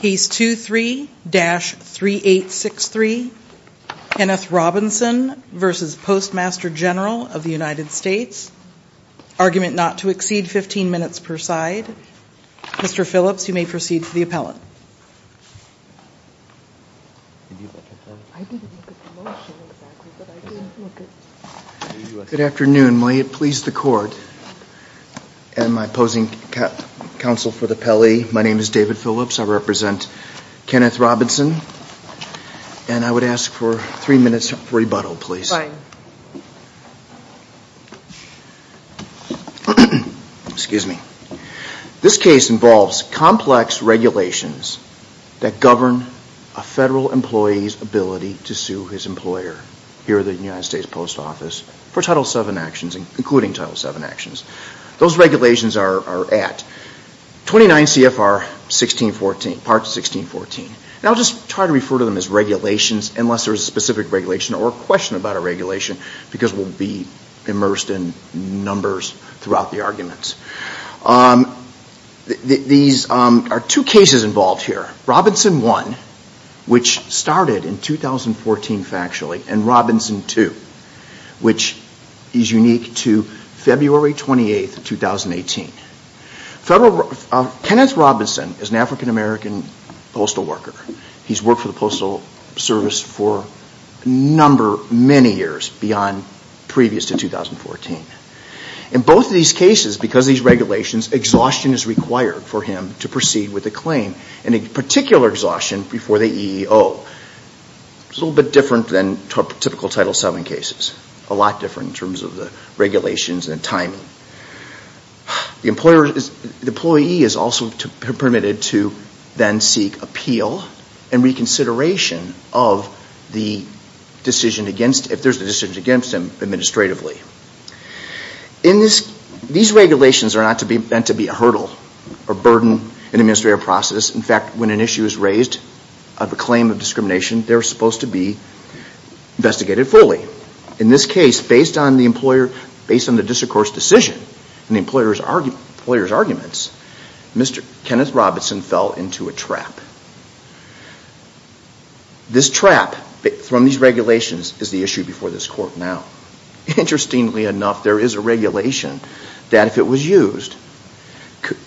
Case 23-3863, Kenneth Robinson v. Postmaster General of the United States Argument not to exceed 15 minutes per side Mr. Phillips, you may proceed to the appellate Good afternoon, may it please the court And my opposing counsel for the Pelley, my name is David Phillips, I represent Kenneth Robinson And I would ask for three minutes of rebuttal please Fine Excuse me This case involves complex regulations that govern a federal employee's ability to sue his employer Here at the United States Post Office for Title VII actions, including Title VII actions Those regulations are at 29 CFR 1614, Part 1614 And I'll just try to refer to them as regulations unless there's a specific regulation or a question about a regulation Because we'll be immersed in numbers throughout the arguments These are two cases involved here Robinson 1, which started in 2014 factually, and Robinson 2, which is unique to February 28, 2018 Kenneth Robinson is an African American postal worker He's worked for the Postal Service for a number, many years, beyond previous to 2014 In both of these cases, because of these regulations, exhaustion is required for him to proceed with a claim And in particular exhaustion before the EEO It's a little bit different than typical Title VII cases A lot different in terms of the regulations and the timing The employee is also permitted to then seek appeal and reconsideration of the decision against, if there's a decision against him, administratively These regulations are not meant to be a hurdle or burden in an administrative process In fact, when an issue is raised of a claim of discrimination, they're supposed to be investigated fully In this case, based on the district court's decision and the employer's arguments, Mr. Kenneth Robinson fell into a trap This trap from these regulations is the issue before this court now Interestingly enough, there is a regulation that if it was used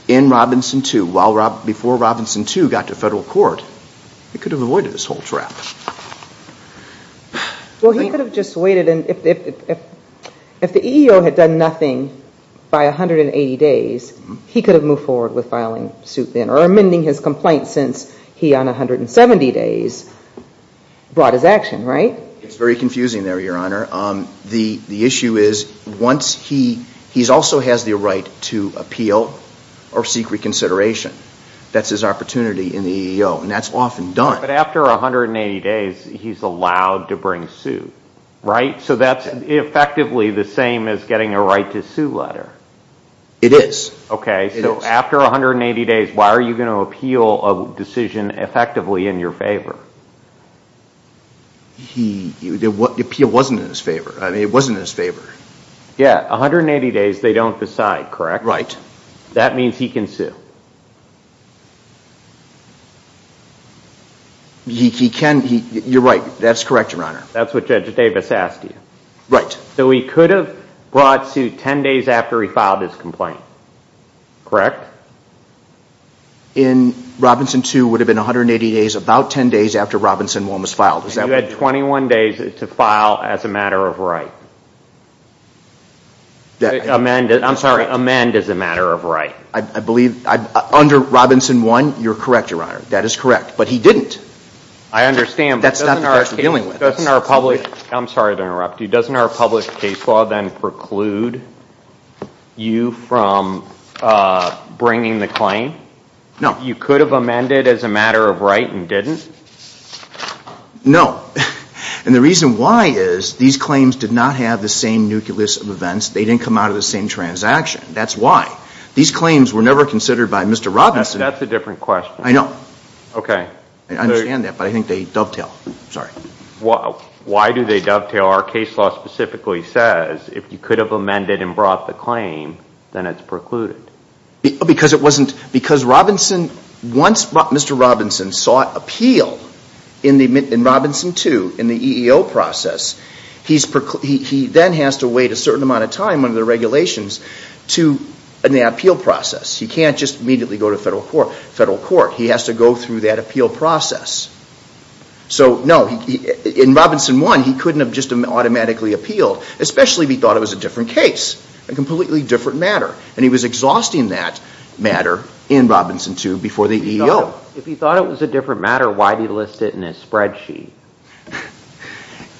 in Robinson 2, before Robinson 2 got to federal court, it could have avoided this whole trap Well, he could have just waited, and if the EEO had done nothing by 180 days, he could have moved forward with filing suit then Or amending his complaint since he, on 170 days, brought his action, right? It's very confusing there, Your Honor The issue is, he also has the right to appeal or seek reconsideration That's his opportunity in the EEO, and that's often done But after 180 days, he's allowed to bring suit, right? So that's effectively the same as getting a right to sue letter It is Okay, so after 180 days, why are you going to appeal a decision effectively in your favor? The appeal wasn't in his favor, I mean, it wasn't in his favor Yeah, 180 days, they don't decide, correct? That means he can sue He can, you're right, that's correct, Your Honor That's what Judge Davis asked you Right So he could have brought suit 10 days after he filed his complaint, correct? In Robinson 2, it would have been 180 days, about 10 days after Robinson 1 was filed You had 21 days to file as a matter of right I'm sorry, amend as a matter of right I believe, under Robinson 1, you're correct, Your Honor, that is correct But he didn't I understand, but doesn't our I'm sorry to interrupt you, doesn't our published case law then preclude you from bringing the claim? You could have amended as a matter of right and didn't? No, and the reason why is these claims did not have the same nucleus of events They didn't come out of the same transaction, that's why These claims were never considered by Mr. Robinson That's a different question I know Okay I understand that, but I think they dovetail, sorry Why do they dovetail? Our case law specifically says if you could have amended and brought the claim, then it's precluded Because it wasn't, because Robinson Once Mr. Robinson sought appeal in Robinson 2, in the EEO process He then has to wait a certain amount of time under the regulations to, in the appeal process He can't just immediately go to federal court He has to go through that appeal process So, no, in Robinson 1, he couldn't have just automatically appealed Especially if he thought it was a different case A completely different matter And he was exhausting that matter in Robinson 2 before the EEO If he thought it was a different matter, why did he list it in his spreadsheet?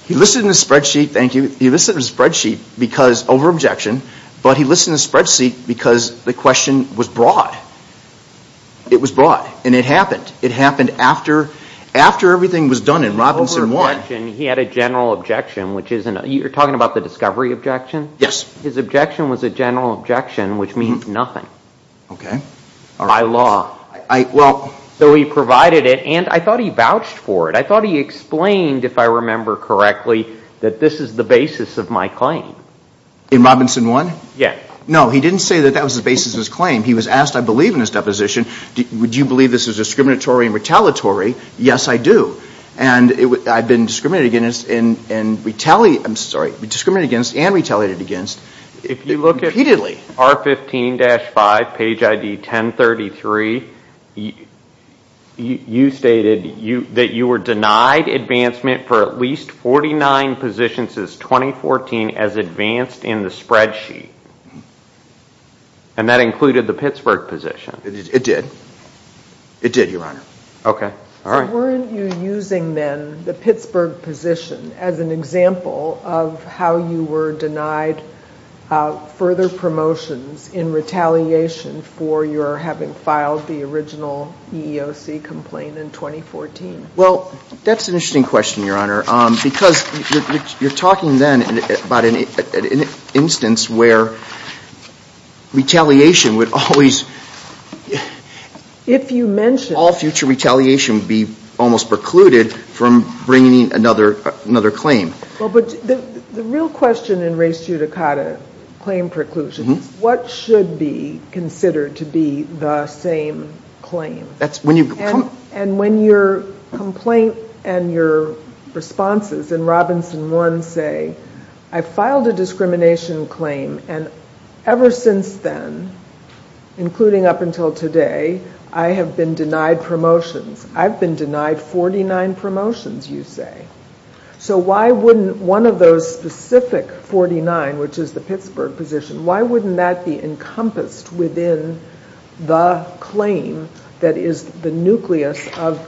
He listed it in his spreadsheet, thank you He listed it in his spreadsheet because, over-objection But he listed it in his spreadsheet because the question was broad It was broad, and it happened It happened after everything was done in Robinson 1 You mentioned he had a general objection, which isn't You're talking about the discovery objection? His objection was a general objection, which means nothing Okay By law I, well So he provided it, and I thought he vouched for it I thought he explained, if I remember correctly That this is the basis of my claim In Robinson 1? Yeah No, he didn't say that that was the basis of his claim He was asked, I believe in his deposition Would you believe this is discriminatory and retaliatory? Yes, I do And I've been discriminated against And retaliated, I'm sorry Discriminated against and retaliated against If you look at Repeatedly R15-5, page ID 1033 You stated that you were denied advancement for at least 49 positions since 2014 As advanced in the spreadsheet And that included the Pittsburgh position It did It did, your honor Okay, all right Weren't you using then the Pittsburgh position As an example of how you were denied Further promotions in retaliation For your having filed the original EEOC complaint in 2014? Well, that's an interesting question, your honor Because you're talking then about an instance where Retaliation would always If you mention All future retaliation would be almost precluded From bringing another claim Well, but the real question in res judicata Claim preclusion What should be considered to be the same claim? That's when you And when your complaint and your responses In Robinson 1 say I filed a discrimination claim And ever since then Including up until today I have been denied promotions I've been denied 49 promotions, you say So why wouldn't one of those specific 49 Which is the Pittsburgh position Why wouldn't that be encompassed within The claim that is the nucleus of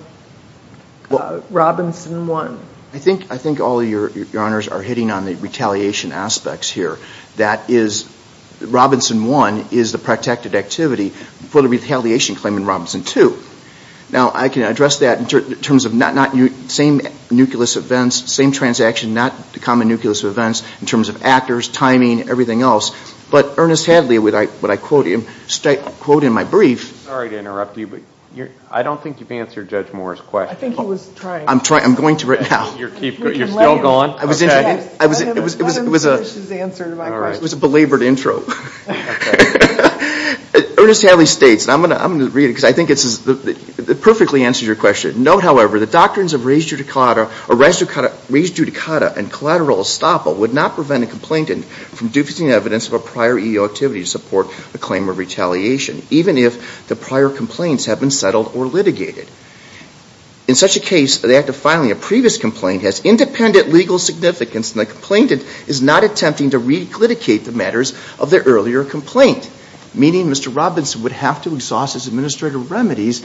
Robinson 1? I think all your honors are hitting on the retaliation aspects here That is Robinson 1 is the protected activity For the retaliation claim in Robinson 2 Now, I can address that in terms of Same nucleus of events, same transaction Not the common nucleus of events In terms of actors, timing, everything else But Ernest Hadley, what I quote him Straight quote in my brief Sorry to interrupt you I don't think you've answered Judge Moore's question I think he was trying I'm going to right now You're still going? Let him finish his answer to my question It was a belabored intro Ernest Hadley states I'm going to read it Because I think it perfectly answers your question Note, however, the doctrines of res judicata Res judicata and collateral estoppel Would not prevent a complainant From duplicating evidence of a prior EEO activity To support a claim of retaliation Even if the prior complaints have been settled or litigated In such a case, the act of filing a previous complaint Has independent legal significance And the complainant is not attempting To re-litigate the matters of their earlier complaint Meaning Mr. Robinson would have to exhaust His administrative remedies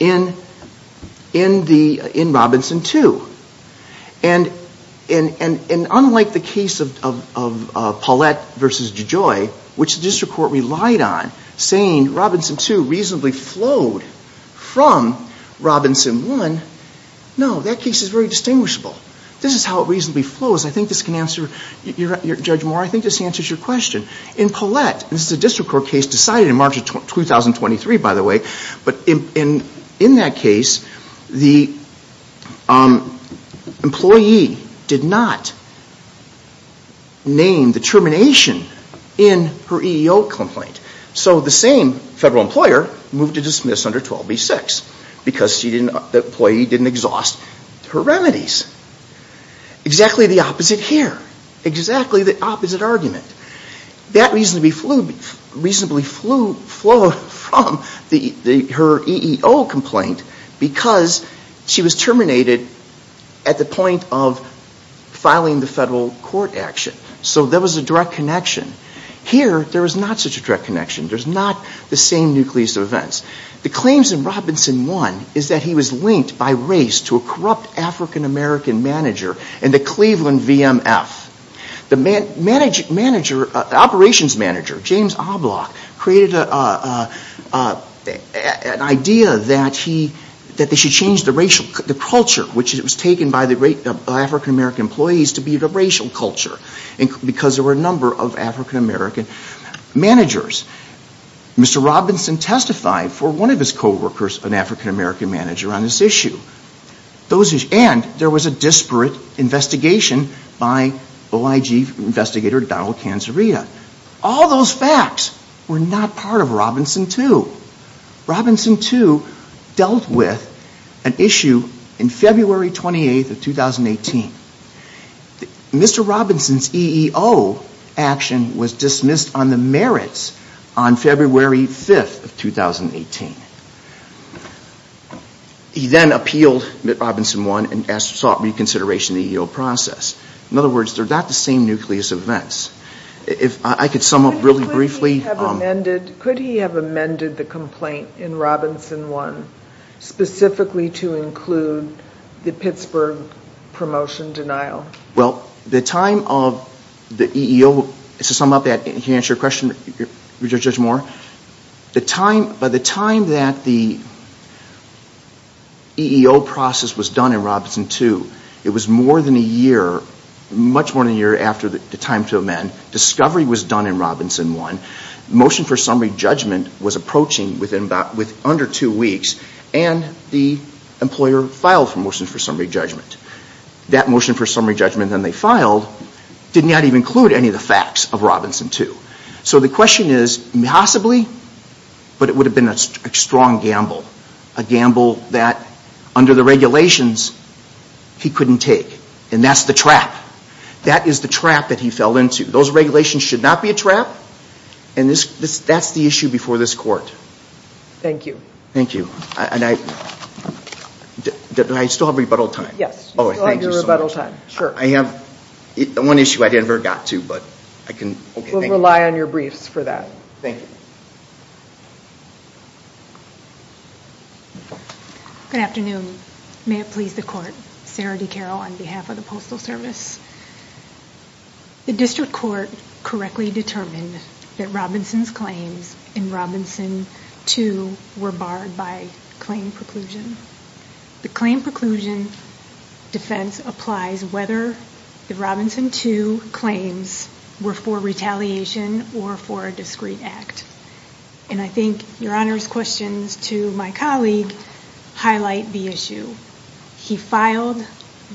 In Robinson 2 And unlike the case of Paulette v. DeJoy Which the district court relied on Saying Robinson 2 reasonably flowed From Robinson 1 No, that case is very distinguishable This is how it reasonably flows I think this can answer Judge Moore, I think this answers your question In Paulette, this is a district court case Decided in March of 2023, by the way But in that case The employee did not Name the termination In her EEO complaint So the same federal employer Moved to dismiss under 12b-6 Because the employee didn't exhaust her remedies Exactly the opposite here Exactly the opposite argument That reasonably flowed From her EEO complaint Because she was terminated At the point of filing the federal court action So there was a direct connection Here, there is not such a direct connection There is not the same nucleus of events The claims in Robinson 1 Is that he was linked by race To a corrupt African-American manager In the Cleveland VMF The operations manager, James Oblock Created an idea That they should change the culture Which was taken by the African-American employees To be the racial culture Because there were a number of African-American managers Mr. Robinson testified For one of his coworkers An African-American manager On this issue And there was a disparate investigation By OIG investigator, Donald Cancerita All those facts Were not part of Robinson 2 Robinson 2 dealt with An issue in February 28, 2018 Mr. Robinson's EEO action Was dismissed on the merits On February 5, 2018 He then appealed Robinson 1 And sought reconsideration of the EEO process In other words, they are not the same nucleus of events If I could sum up really briefly Could he have amended the complaint In Robinson 1 Specifically to include The Pittsburgh promotion denial Well, the time of the EEO To sum up, to answer your question Judge Moore By the time that the EEO process was done in Robinson 2 It was more than a year Much more than a year after the time to amend Discovery was done in Robinson 1 Motion for summary judgment was approaching Within under two weeks And the employer filed for motion for summary judgment That motion for summary judgment that they filed Did not even include any of the facts of Robinson 2 So the question is, possibly But it would have been a strong gamble A gamble that under the regulations He couldn't take And that's the trap That is the trap that he fell into Those regulations should not be a trap And that's the issue before this court Thank you Do I still have rebuttal time? Yes, you still have your rebuttal time I have one issue I never got to We'll rely on your briefs for that Thank you Good afternoon May it please the court Sarah D. Carroll on behalf of the Postal Service The District Court correctly determined That Robinson's claims in Robinson 2 Were barred by claim preclusion The claim preclusion defense applies whether The Robinson 2 claims were for retaliation Or for a discreet act And I think Your Honor's questions to my colleague Highlight the issue He filed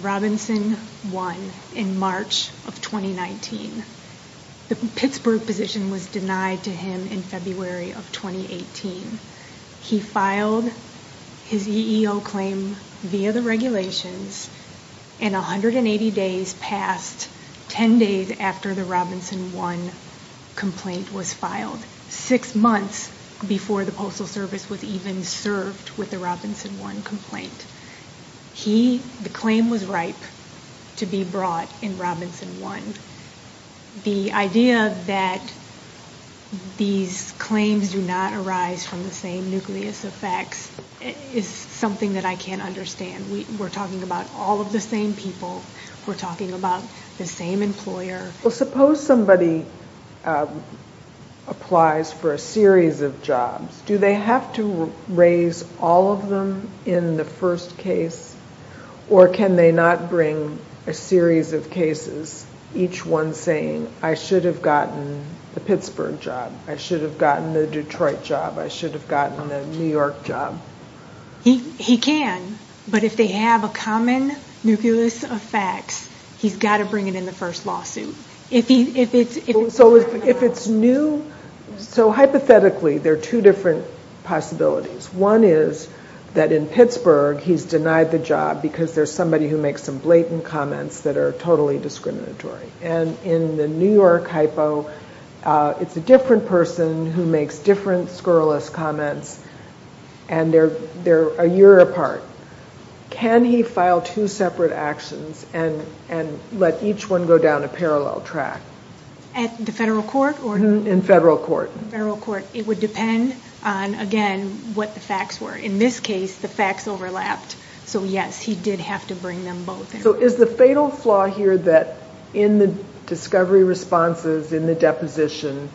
Robinson 1 in March of 2019 The Pittsburgh position was denied to him in February of 2018 He filed his EEO claim via the regulations And 180 days passed 10 days after the Robinson 1 complaint was filed Six months before the Postal Service was even served With the Robinson 1 complaint The claim was ripe to be brought in Robinson 1 The idea that these claims do not arise From the same nucleus of facts Is something that I can't understand We're talking about all of the same people We're talking about the same employer Well suppose somebody applies for a series of jobs Do they have to raise all of them in the first case? Or can they not bring a series of cases Each one saying I should have gotten the Pittsburgh job I should have gotten the Detroit job I should have gotten the New York job He can But if they have a common nucleus of facts He's got to bring it in the first lawsuit So if it's new So hypothetically there are two different possibilities One is that in Pittsburgh he's denied the job Because there's somebody who makes some blatant comments That are totally discriminatory And in the New York hypo It's a different person who makes different scurrilous comments And they're a year apart Can he file two separate actions And let each one go down a parallel track? At the federal court? In federal court It would depend on again what the facts were In this case the facts overlapped So yes he did have to bring them both in So is the fatal flaw here that In the discovery responses in the deposition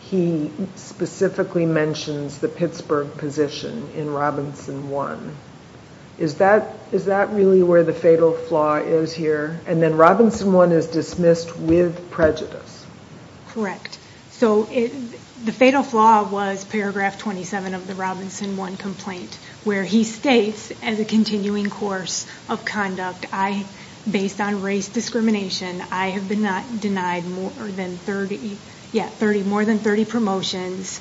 He specifically mentions the Pittsburgh position In Robinson 1 Is that really where the fatal flaw is here? And then Robinson 1 is dismissed with prejudice Correct So the fatal flaw was paragraph 27 of the Robinson 1 complaint Where he states as a continuing course of conduct Based on race discrimination I have been denied more than 30 promotions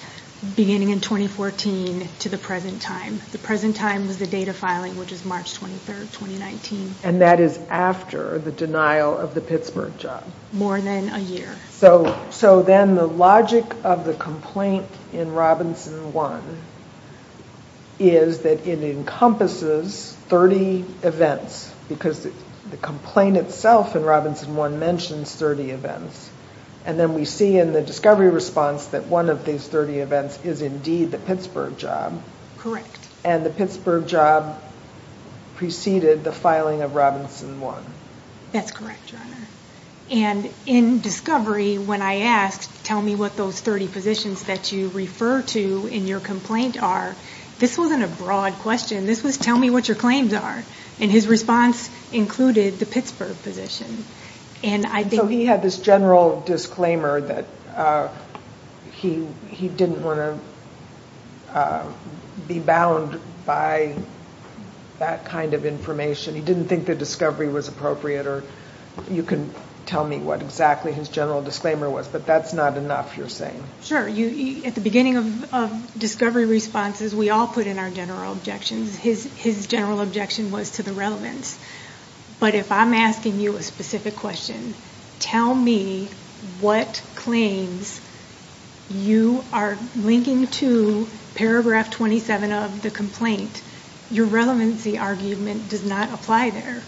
Beginning in 2014 to the present time The present time was the date of filing Which is March 23rd, 2019 And that is after the denial of the Pittsburgh job? More than a year So then the logic of the complaint in Robinson 1 Is that it encompasses 30 events Because the complaint itself in Robinson 1 Mentions 30 events And then we see in the discovery response That one of these 30 events is indeed the Pittsburgh job Correct And the Pittsburgh job preceded the filing of Robinson 1 That's correct your honor And in discovery when I asked Tell me what those 30 positions that you refer to In your complaint are This wasn't a broad question This was tell me what your claims are And his response included the Pittsburgh position So he had this general disclaimer That he didn't want to be bound by that kind of information He didn't think the discovery was appropriate Or you can tell me what exactly his general disclaimer was But that's not enough you're saying Sure, at the beginning of discovery responses We all put in our general objections His general objection was to the relevance But if I'm asking you a specific question Tell me what claims you are linking to Paragraph 27 of the complaint Your relevancy argument does not apply there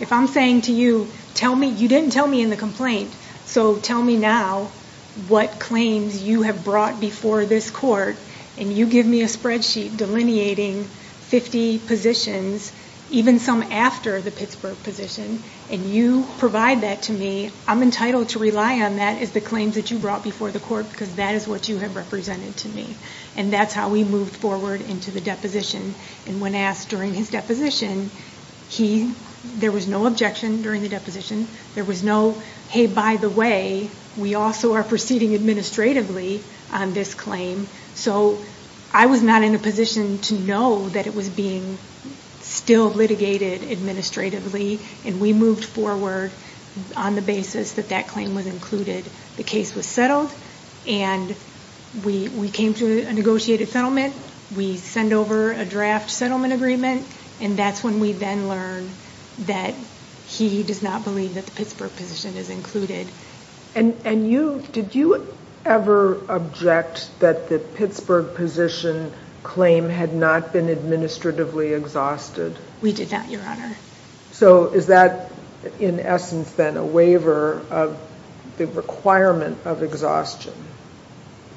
If I'm saying to you You didn't tell me in the complaint So tell me now What claims you have brought before this court And you give me a spreadsheet Delineating 50 positions Even some after the Pittsburgh position And you provide that to me I'm entitled to rely on that As the claims that you brought before the court Because that is what you have represented to me And that's how we moved forward into the deposition And when asked during his deposition There was no objection during the deposition There was no hey by the way We also are proceeding administratively on this claim So I was not in a position to know That it was being still litigated administratively And we moved forward on the basis That that claim was included The case was settled And we came to a negotiated settlement We send over a draft settlement agreement And that's when we then learned That he does not believe That the Pittsburgh position is included And you, did you ever object That the Pittsburgh position claim Had not been administratively exhausted We did not your honor So is that in essence then a waiver Of the requirement of exhaustion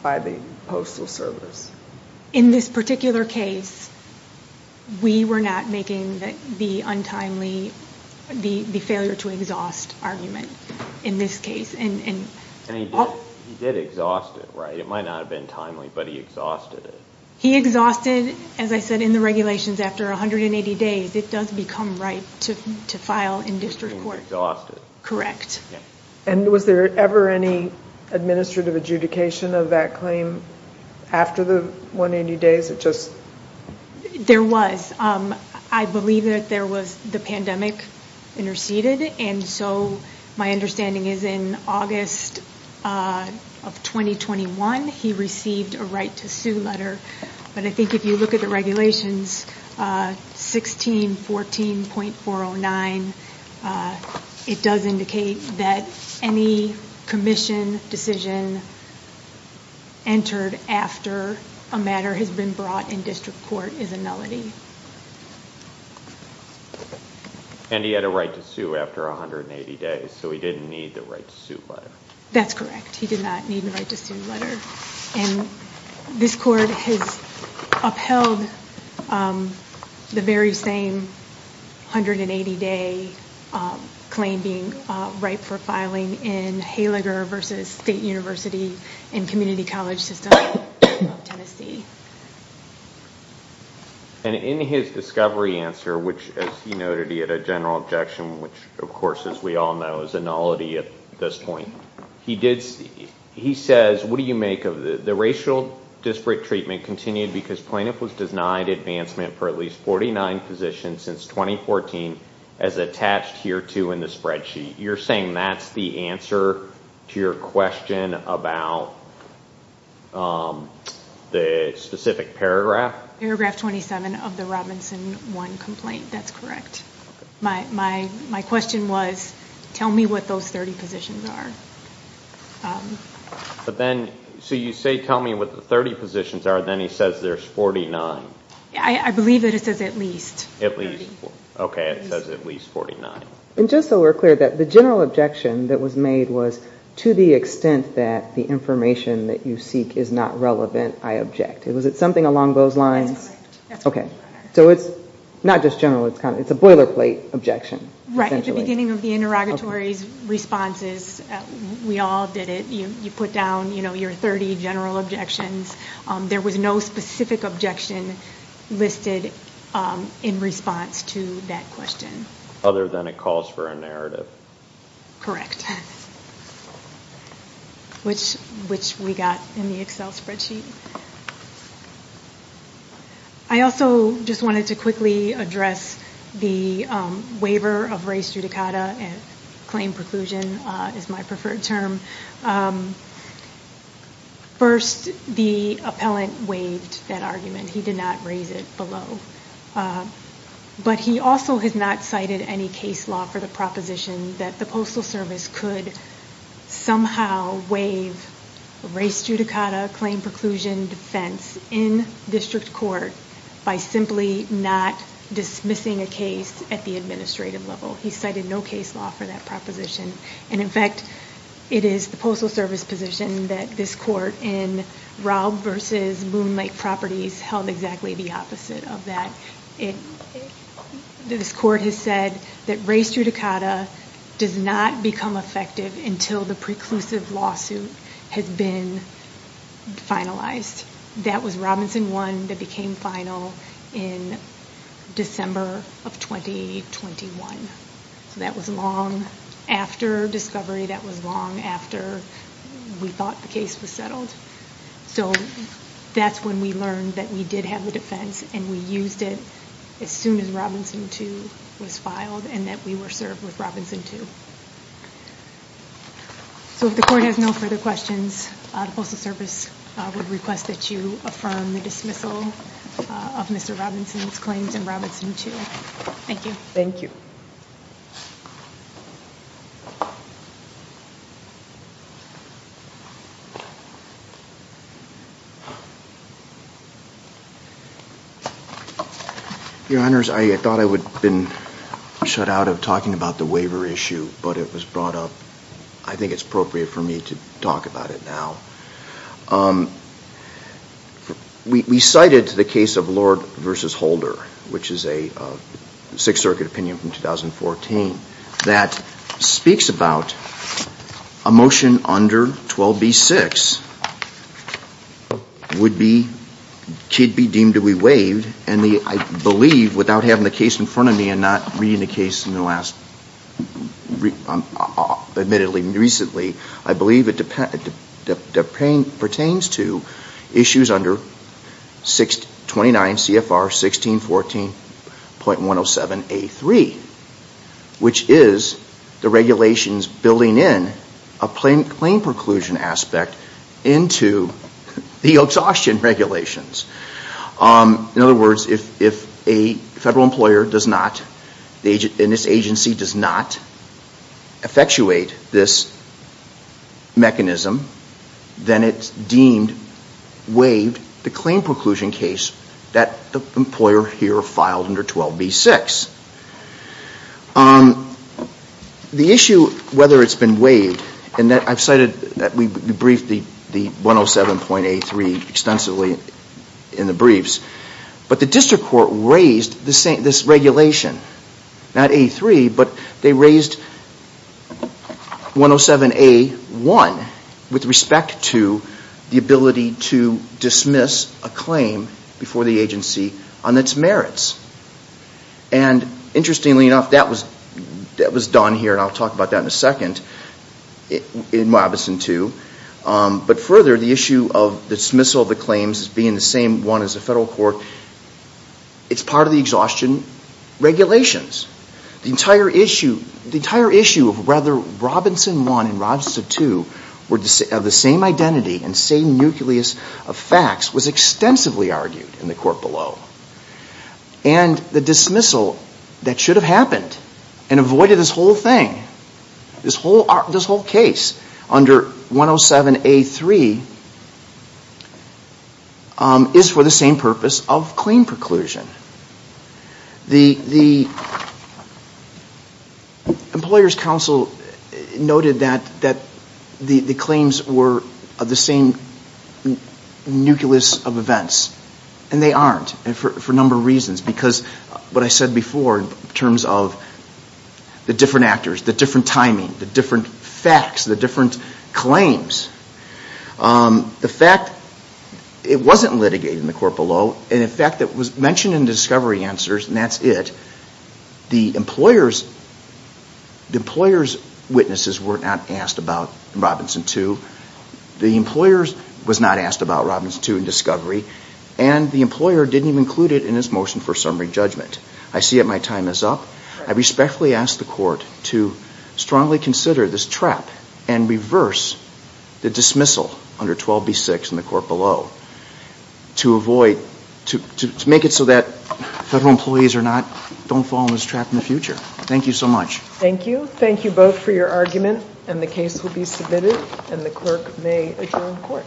By the postal service In this particular case We were not making the untimely The failure to exhaust argument In this case And he did exhaust it right It might not have been timely But he exhausted it He exhausted As I said in the regulations After 180 days It does become right To file in district court Correct And was there ever any Administrative adjudication of that claim After the 180 days It just There was I believe that there was The pandemic interceded And so My understanding is in August Of 2021 He received a right to sue letter But I think if you look at the regulations 1614.409 It does indicate that Any commission decision Entered after A matter has been brought in district court Is a nullity And he had a right to sue After 180 days So he didn't need the right to sue letter That's correct He did not need the right to sue letter And this court has The very same 180 day Claim being Right for filing in Haliger versus State University And community college system Of Tennessee And in his discovery answer Which as he noted He had a general objection Which of course as we all know Is a nullity at this point He did He says What do you make of the racial Disparate treatment continued Because plaintiff was denied advancement For at least 49 positions Since 2014 As attached here to In the spreadsheet You're saying that's the answer To your question about The specific paragraph Paragraph 27 of the Robinson 1 complaint That's correct My question was Tell me what those 30 positions are But then So you say tell me what the 30 positions are Then he says there's 49 I believe that it says at least At least Okay it says at least 49 And just so we're clear That the general objection That was made was To the extent that The information that you seek Is not relevant I object Was it something along those lines? That's correct Okay So it's Not just general It's a boilerplate objection Right at the beginning of the interrogatory Responses We all did it You put down Your 30 general objections There was no specific objection Listed In response to that question Other than it calls for a narrative Correct Which Which we got In the Excel spreadsheet I also Just wanted to quickly Address The Waiver of race Judicata And Claim preclusion Is my preferred term First The Appellant waived That argument He did not raise it Below But he also Has not cited Any case law For the proposition That the Postal Service Could Somehow Waive Race Judicata Claim preclusion Defense In District court By simply Not Dismissing a case At the administrative level He cited no case law For that proposition And in fact It is The Postal Service position That this court In Raub Versus Moon Lake Properties Held exactly the opposite Of that It This court has said That race Judicata Does not Become Effective Until the Preclusive Lawsuit Has been Finalized That was Robinson 1 That became Final In December Of 2021 That was Long After Discovery That was Long After We thought The case Was settled So That's when We learned That we Did have The defense And we Used it As soon as Robinson 2 Was filed And that we Were served With Robinson 2 So if the Court has No further Questions The Postal Service Would request That you Affirm the Dismissal Of Mr. Robinson's Claims in Robinson 2 Thank you Thank you Mr. Honours I Thought I Would Have been Shut out If I Talked About the Waiver Issue It Was Brought Up I Think It Was Proper For Or Me Um We Cited Lord Versus Holder Which Is a Sixth Circuit Opinion From 2014 That Speaks About A Motion Under 12B6 Would Be Deemed To And I Without Having The Case In Front Of Me And Not Be Declaration That The Exhaustion Regulations In Other Words If A Federal Employer Does Not In This Agency Does Not Effectuate This Mechanism Then It May Be Declared In If A Federal Employer Does Words If The Ability To Dismiss A Before The Agency On Its Merits And Interestingly Enough That Was Done Here In Wabuson 2 But Further The Issue Of The Nucleus Of Was Argued In The Court Below And The Dismissal That Should Have Happened And Avoided This Whole Thing Under 107 A 3 Is For The Same Nucleus Of Events And They Aren't For A Of Because What I Said Before In Terms Of The Different Actors The Timing The Facts The Different A The Dismissal Under 12B6 And Below To Avoid To Make It So That Federal Employees Are Not Don't Fall Into This In The Future Thank You So Much Thank You Both For Your Argument And The Case Will Be Submitted And The Clerk May Adjourn The